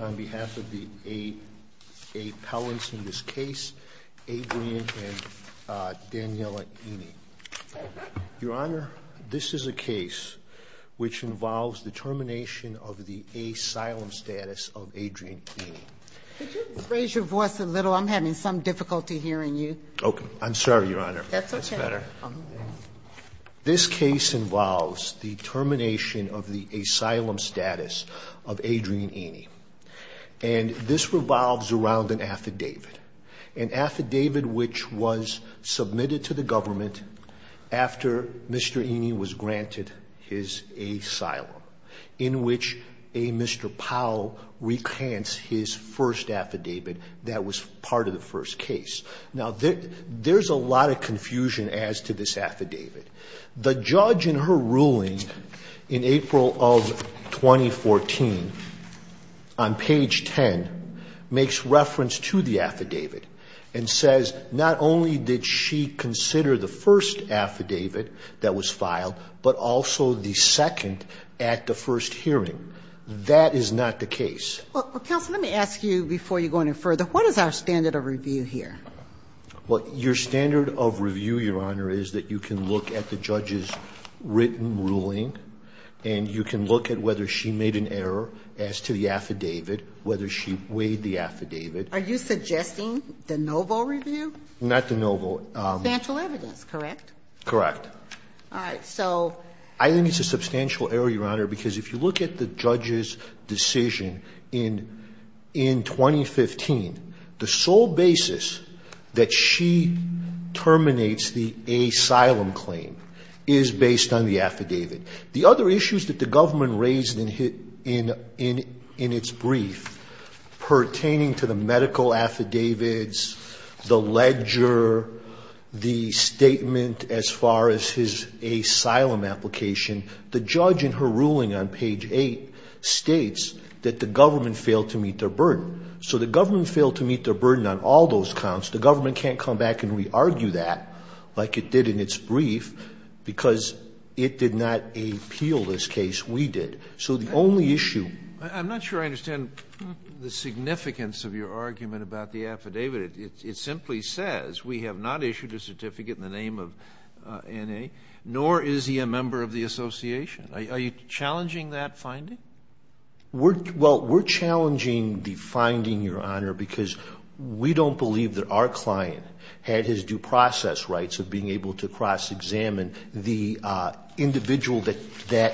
on behalf of the eight appellants in this case, Adrienne and Daniella Ene. Your Honor, this is a case which involves the termination of the asylum status of Adrienne Ene. Could you raise your voice a little? I'm having some difficulty hearing you. Okay. I'm sorry, Your Honor. That's okay. That's better. This case involves the termination of the asylum status of Adrienne Ene. And this revolves around an affidavit, an affidavit which was submitted to the government after Mr. Ene was granted his asylum, in which a Mr. Powell recants his first affidavit that was part of the first case. Now, there's a lot of confusion as to this affidavit. The judge in her ruling in April of 2014, on page 10, makes reference to the affidavit and says not only did she consider the first affidavit that was filed, but also the second at the first hearing. That is not the case. Well, counsel, let me ask you before you go any further, what is our standard of review here? Well, your standard of review, Your Honor, is that you can look at the judge's written ruling and you can look at whether she made an error as to the affidavit, whether she weighed the affidavit. Are you suggesting the Novo review? Not the Novo. Substantial evidence, correct? Correct. All right. So. I think it's a substantial error, Your Honor, because if you look at the judge's decision in 2015, the sole basis that she terminates the asylum claim is based on the affidavit. The other issues that the government raised in its brief pertaining to the medical affidavits, the ledger, the statement as far as his asylum application, the judge in her ruling on page 8 states that the government failed to meet their burden. So the government failed to meet their burden on all those counts. The government can't come back and re-argue that like it did in its brief because it did not appeal this case. We did. So the only issue. I'm not sure I understand the significance of your argument about the affidavit. It simply says we have not issued a certificate in the name of N.A., nor is he a member of the association. Are you challenging that finding? Well, we're challenging the finding, Your Honor, because we don't believe that our client had his due process rights of being able to cross-examine the individual that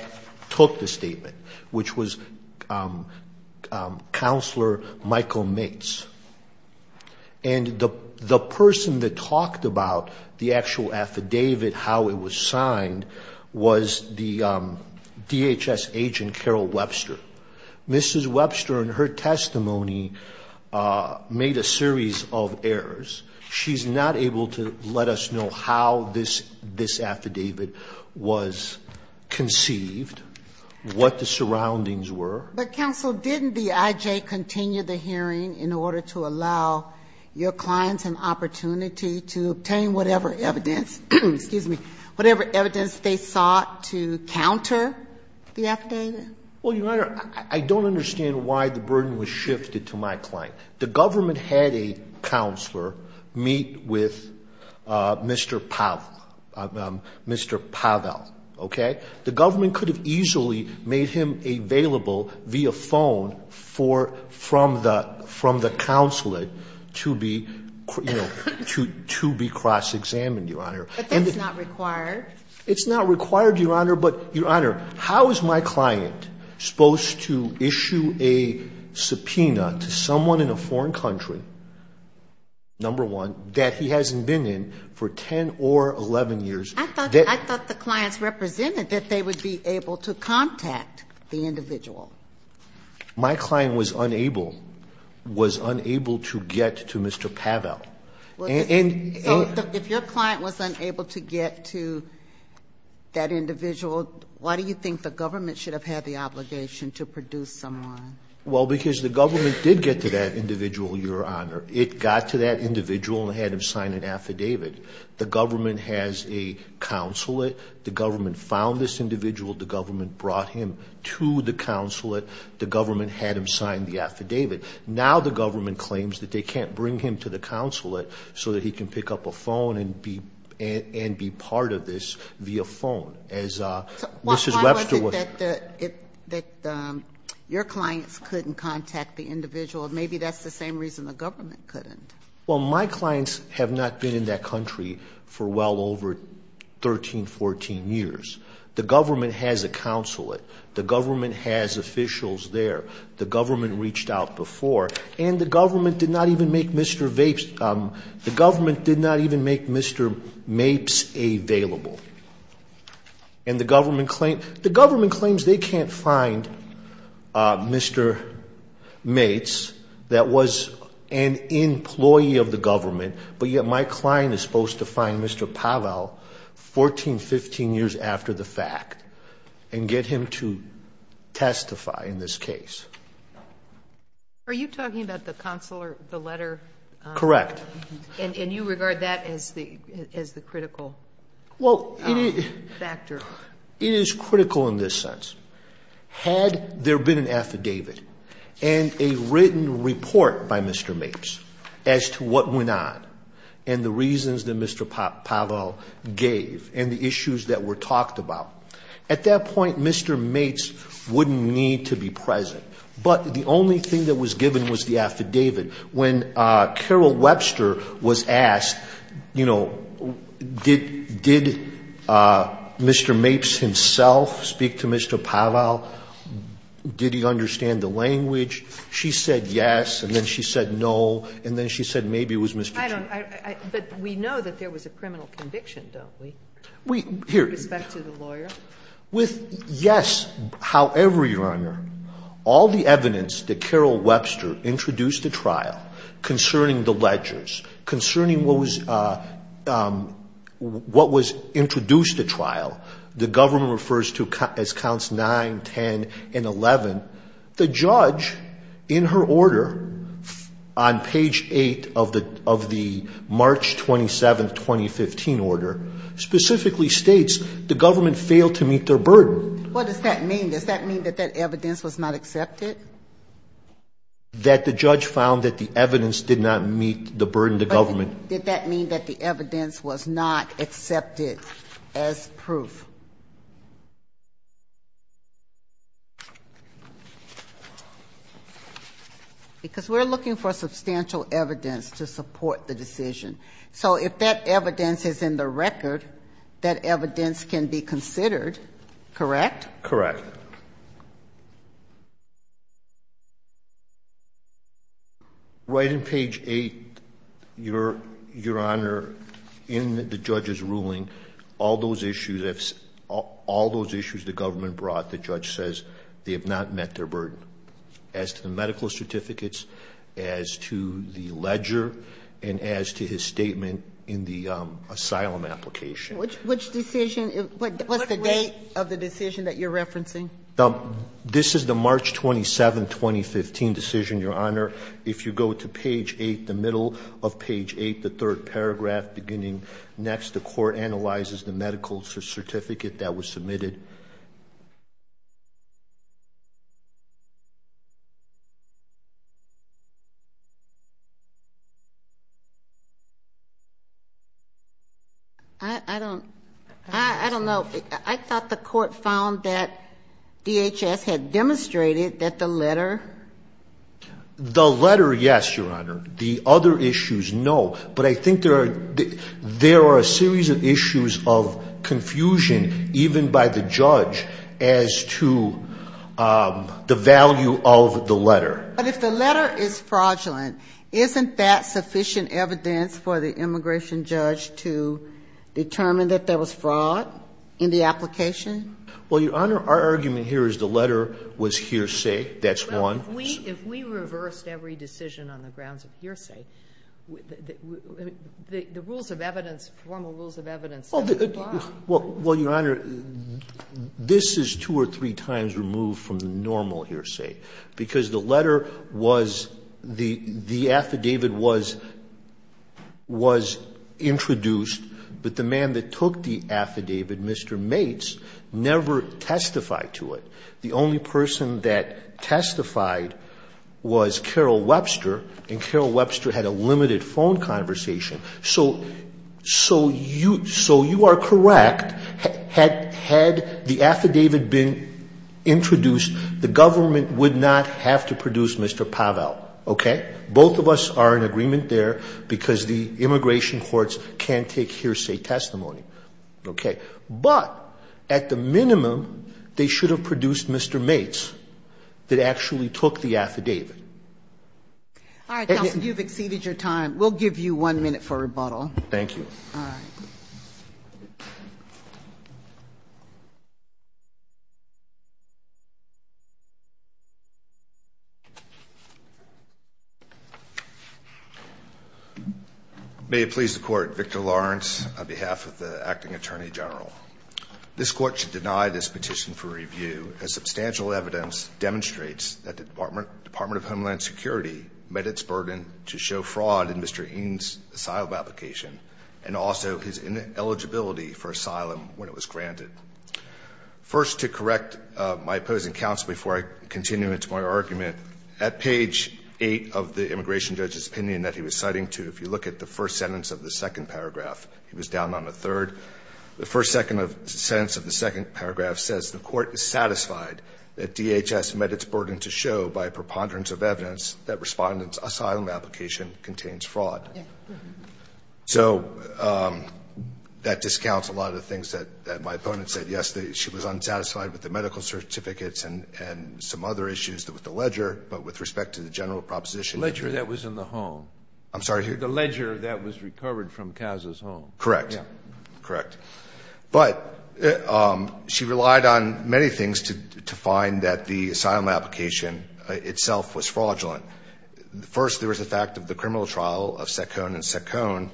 took the statement, which was Counselor Michael Maitz. And the person that talked about the actual affidavit, how it was signed, was the DHS agent, Carol Webster. Mrs. Webster in her testimony made a series of errors. She's not able to let us know how this affidavit was conceived, what the surroundings were. But, Counsel, didn't the I.J. continue the hearing in order to allow your clients an opportunity to obtain whatever evidence, excuse me, whatever evidence they sought to counter the affidavit? Well, Your Honor, I don't understand why the burden was shifted to my client. The government had a counselor meet with Mr. Powell, Mr. Powell, okay? The government could have easily made him available via phone from the counselor to be, you know, to be cross-examined, Your Honor. But that's not required. It's not required, Your Honor. But, Your Honor, how is my client supposed to issue a subpoena to someone in a foreign country, number one, that he hasn't been in for 10 or 11 years? I thought the clients represented that they would be able to contact the individual. My client was unable, was unable to get to Mr. Powell. Well, so if your client was unable to get to that individual, why do you think the government should have had the obligation to produce someone? Well, because the government did get to that individual, Your Honor. It got to that individual and had him sign an affidavit. The government has a consulate. The government found this individual. The government brought him to the consulate. The government had him sign the affidavit. Now the government claims that they can't bring him to the consulate so that he can pick up a phone and be part of this via phone, as Mrs. Webster was. Why was it that your clients couldn't contact the individual? Maybe that's the same reason the government couldn't. Well, my clients have not been in that country for well over 13, 14 years. The government has a consulate. The government has officials there. The government reached out before. And the government did not even make Mr. Mapes available. And the government claims they can't find Mr. Mapes that was an employee of the government, but yet my client is supposed to find Mr. Pavel 14, 15 years after the fact and get him to testify in this case. Are you talking about the consular, the letter? Correct. And you regard that as the critical? Well, it is critical in this sense. Had there been an affidavit and a written report by Mr. Mapes as to what went on and the reasons that Mr. Pavel gave and the issues that were talked about, at that point Mr. Mapes wouldn't need to be present. But the only thing that was given was the affidavit. When Carol Webster was asked, you know, did Mr. Mapes himself speak to Mr. Pavel? Did he understand the language? She said yes, and then she said no, and then she said maybe it was Mr. Chapman. But we know that there was a criminal conviction, don't we? Here. With respect to the lawyer? With yes, however, Your Honor, all the evidence that Carol Webster introduced the trial concerning the ledgers, concerning what was introduced at trial, the government refers to as counts 9, 10, and 11. The judge, in her order on page 8 of the March 27, 2015 order, specifically states the government failed to meet their burden. What does that mean? Does that mean that that evidence was not accepted? That the judge found that the evidence did not meet the burden of the government. Did that mean that the evidence was not accepted as proof? Because we're looking for substantial evidence to support the decision. So if that evidence is in the record, that evidence can be considered, correct? Correct. Right in page 8, Your Honor, in the judge's ruling, all those issues, all those issues the government brought, the judge says they have not met their burden. As to the medical certificates, as to the ledger, and as to his statement in the asylum application. Which decision? What's the date of the decision that you're referencing? This is the March 27, 2015 decision, Your Honor. If you go to page 8, the middle of page 8, the third paragraph beginning next, the court analyzes the medical certificate that was submitted. I don't know. I thought the court found that DHS had demonstrated that the letter. The letter, yes, Your Honor. The other issues, no. But I think there are a series of issues of confusion even by the judge as to the value of the letter. But if the letter is fraudulent, isn't that sufficient evidence for the immigration judge to determine that there was fraud in the application? Well, Your Honor, our argument here is the letter was hearsay. That's one. If we reversed every decision on the grounds of hearsay, the rules of evidence, formal rules of evidence. Well, Your Honor, this is two or three times removed from the normal hearsay, because the letter was, the affidavit was introduced, but the man that took the affidavit, Mr. Mates, never testified to it. The only person that testified was Carol Webster, and Carol Webster had a limited phone conversation. So you are correct. Had the affidavit been introduced, the government would not have to produce Mr. Pavel. Okay? Both of us are in agreement there, because the immigration courts can't take hearsay testimony. Okay. But at the minimum, they should have produced Mr. Mates that actually took the affidavit. All right, counsel, you've exceeded your time. We'll give you one minute for rebuttal. Thank you. All right. May it please the court, Victor Lawrence, on behalf of the acting attorney general. This court should deny this petition for review, as substantial evidence demonstrates that the Department of Homeland Security met its burden to show fraud in Mr. Eanes' asylum application, and also his ineligibility for asylum when it was granted. First, to correct my opposing counsel before I continue into my argument, at page 8 of the immigration judge's opinion that he was citing to, if you look at the first sentence of the second paragraph, he was down on a third. The first sentence of the second paragraph says the court is satisfied that DHS met its burden to show by preponderance of evidence that Respondent's asylum application contains fraud. So that discounts a lot of the things that my opponent said yesterday. She was unsatisfied with the medical certificates and some other issues with the ledger, but with respect to the general proposition. The ledger that was in the home. I'm sorry? The ledger that was recovered from Casa's home. Correct. Correct. But she relied on many things to find that the asylum application itself was fraudulent. First, there was the fact of the criminal trial of Secone and Secone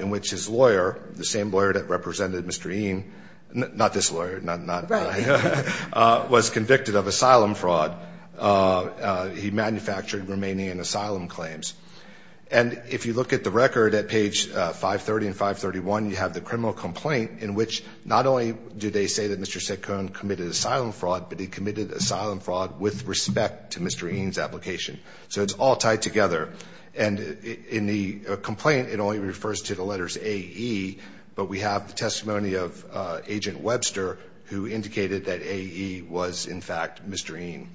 in which his lawyer, the same lawyer that represented Mr. Eanes, not this lawyer, not I, was convicted of asylum fraud. He manufactured Romanian asylum claims. And if you look at the record at page 530 and 531, you have the criminal complaint in which not only do they say that Mr. Secone committed asylum fraud, but he committed asylum fraud with respect to Mr. Eanes' application. So it's all tied together. And in the complaint, it only refers to the letters AE, but we have the testimony of Agent Webster who indicated that AE was, in fact, Mr. Eanes.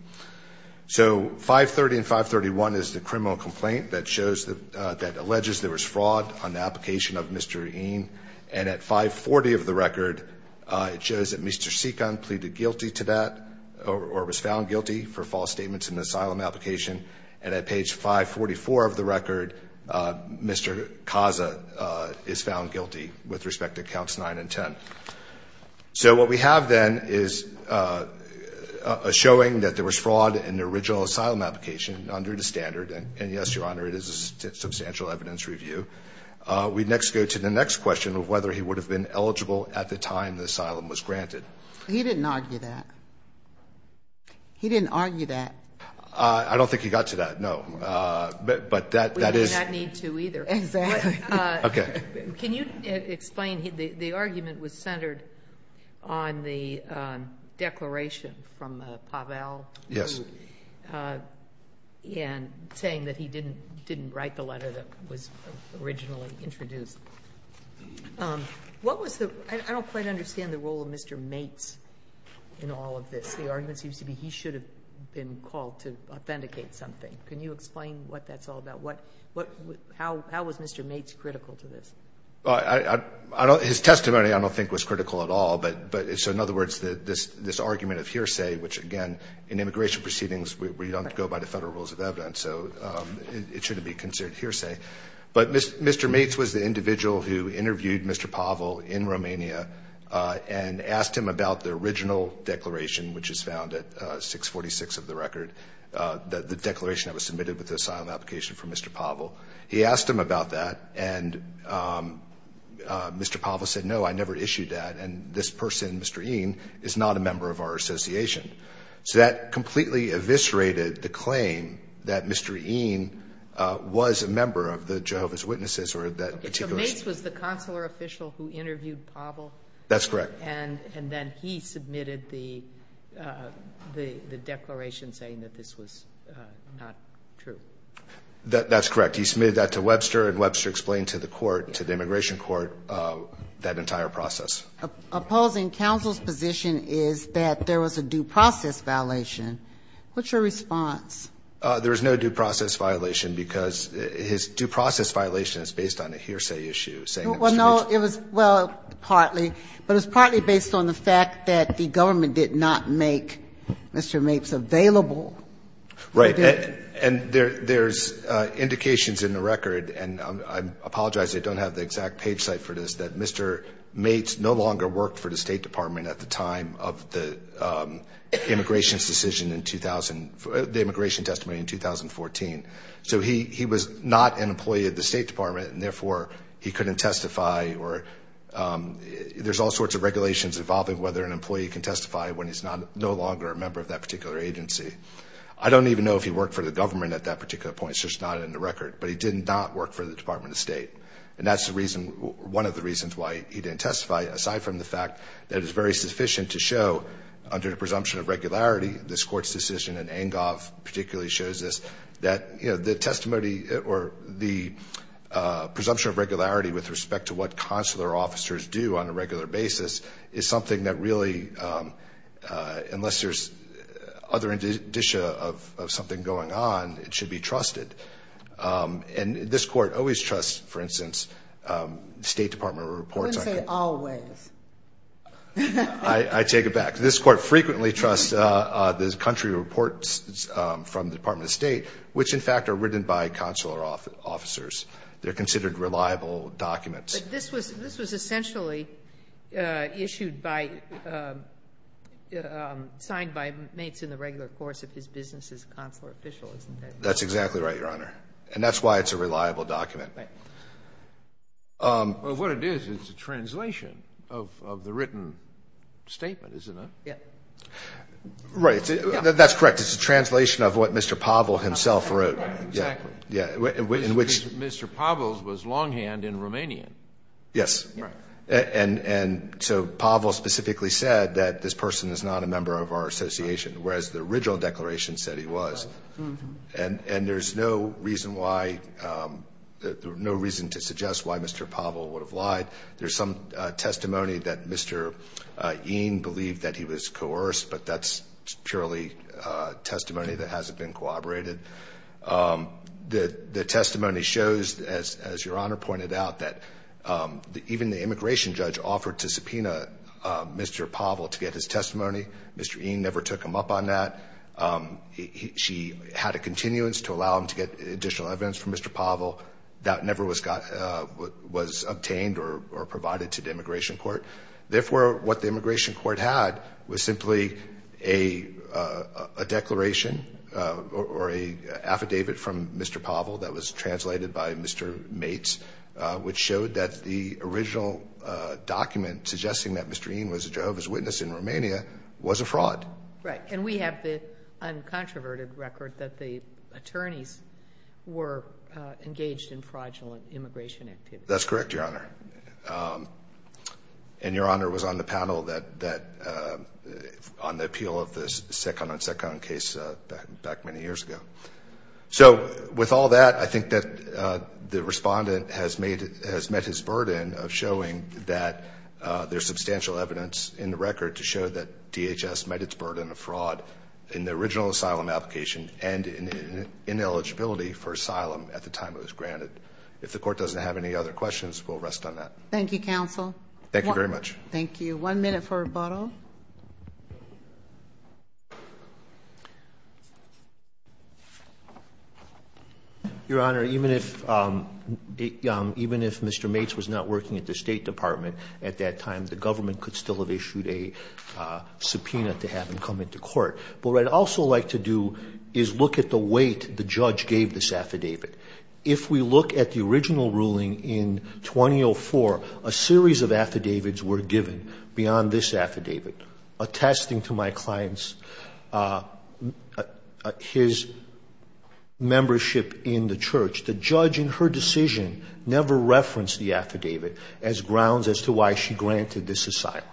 So 530 and 531 is the criminal complaint that shows, that alleges there was fraud on the application of Mr. Eanes. And at 540 of the record, it shows that Mr. Secone pleaded guilty to that, or was found guilty for false statements in an asylum application. And at page 544 of the record, Mr. Caza is found guilty with respect to counts 9 and 10. So what we have then is a showing that there was fraud in the original asylum application under the standard, and yes, Your Honor, it is a substantial evidence review. We next go to the next question of whether he would have been eligible at the time the asylum was granted. He didn't argue that. He didn't argue that. I don't think he got to that, no. But that is. We do not need to either. Exactly. Okay. Can you explain? The argument was centered on the declaration from Pavel. Yes. And saying that he didn't write the letter that was originally introduced. I don't quite understand the role of Mr. Maitz in all of this. The argument seems to be he should have been called to authenticate something. Can you explain what that's all about? How was Mr. Maitz critical to this? His testimony I don't think was critical at all. But in other words, this argument of hearsay, which again, in immigration proceedings, we don't go by the Federal rules of evidence. So it shouldn't be considered hearsay. But Mr. Maitz was the individual who interviewed Mr. Pavel in Romania and asked him about the original declaration, which is found at 646 of the record, the declaration that was submitted with the asylum application from Mr. Pavel. He asked him about that, and Mr. Pavel said, no, I never issued that, and this person, Mr. Eane, is not a member of our association. So that completely eviscerated the claim that Mr. Eane was a member of the Jehovah's Witnesses or that particular association. So Maitz was the consular official who interviewed Pavel? That's correct. And then he submitted the declaration saying that this was not true. That's correct. He submitted that to Webster, and Webster explained to the court, to the immigration court, that entire process. Opposing counsel's position is that there was a due process violation. What's your response? There is no due process violation, because his due process violation is based on a hearsay issue, saying that Mr. Maitz. Well, no, it was partly, but it was partly based on the fact that the government did not make Mr. Maitz available. Right. And there's indications in the record, and I apologize, I don't have the exact page cite for this, that Mr. Maitz no longer worked for the State Department at the time of the immigration's decision in 2000, the immigration testimony in 2014. So he was not an employee of the State Department, and therefore he couldn't testify, or there's all sorts of regulations involving whether an employee can testify when he's no longer a member of that particular agency. I don't even know if he worked for the government at that particular point. It's just not in the record. But he did not work for the Department of State. And that's the reason, one of the reasons why he didn't testify, aside from the fact that it's very sufficient to show under the presumption of regularity, this Court's decision, and Engov particularly shows this, that, you know, the testimony or the presumption of regularity with respect to what consular officers do on a regular basis is something that really, unless there's other indicia of something going on, it should be trusted. And this Court always trusts, for instance, State Department reports. Sotomayor, I wouldn't say always. I take it back. This Court frequently trusts the country reports from the Department of State, which in fact are written by consular officers. They're considered reliable documents. But this was essentially issued by, signed by Maitz in the regular course of his business as consular official, isn't it? That's exactly right, Your Honor. And that's why it's a reliable document. Right. Well, what it is, it's a translation of the written statement, isn't it? Yeah. Right. That's correct. It's a translation of what Mr. Pavel himself wrote. Exactly. Yeah. In which Mr. Pavel was longhand in Romanian. Yes. Right. And so Pavel specifically said that this person is not a member of our association, whereas the original declaration said he was. And there's no reason why, no reason to suggest why Mr. Pavel would have lied. There's some testimony that Mr. Eane believed that he was coerced, but that's purely testimony that hasn't been corroborated. The testimony shows, as Your Honor pointed out, that even the immigration judge offered to subpoena Mr. Pavel to get his testimony. Mr. Eane never took him up on that. She had a continuance to allow him to get additional evidence from Mr. Pavel. That never was obtained or provided to the immigration court. Therefore, what the immigration court had was simply a declaration or an affidavit from Mr. Pavel that was translated by Mr. Mates, which showed that the original document suggesting that Mr. Eane was a Jehovah's Witness in Romania was a fraud. Right. And we have the uncontroverted record that the attorneys were engaged in fraudulent immigration activities. That's correct, Your Honor. And Your Honor was on the panel on the appeal of the Sekanon-Sekanon case back many years ago. So with all that, I think that the respondent has met his burden of showing that there's substantial evidence in the record to show that DHS met its burden of fraud in the original asylum application and in ineligibility for asylum at the time it was granted. If the court doesn't have any other questions, we'll rest on that. Thank you, counsel. Thank you very much. Thank you. One minute for rebuttal. Your Honor, even if Mr. Mates was not working at the State Department at that time, the government could still have issued a subpoena to have him come into court. But what I'd also like to do is look at the weight the judge gave this affidavit. If we look at the original ruling in 2004, a series of affidavits were given beyond this affidavit, attesting to my client's his membership in the church. The judge in her decision never referenced the affidavit as grounds as to why she granted this asylum.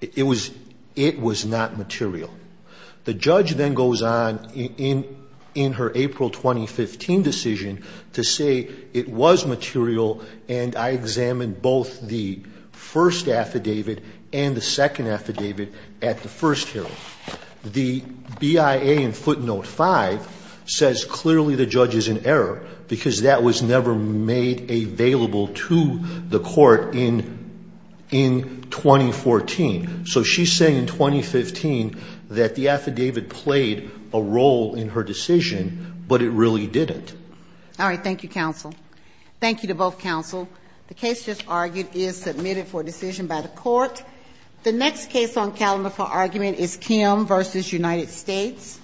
It was not material. The judge then goes on in her April 2015 decision to say it was material and I examined both the first affidavit and the second affidavit at the first hearing. The BIA in footnote 5 says clearly the judge is in error because that was never made available to the court in 2014. So she's saying in 2015 that the affidavit played a role in her decision, but it really didn't. All right. Thank you, counsel. Thank you to both counsel. The case just argued is submitted for decision by the court. The next case on calendar for argument is Kim v. United States.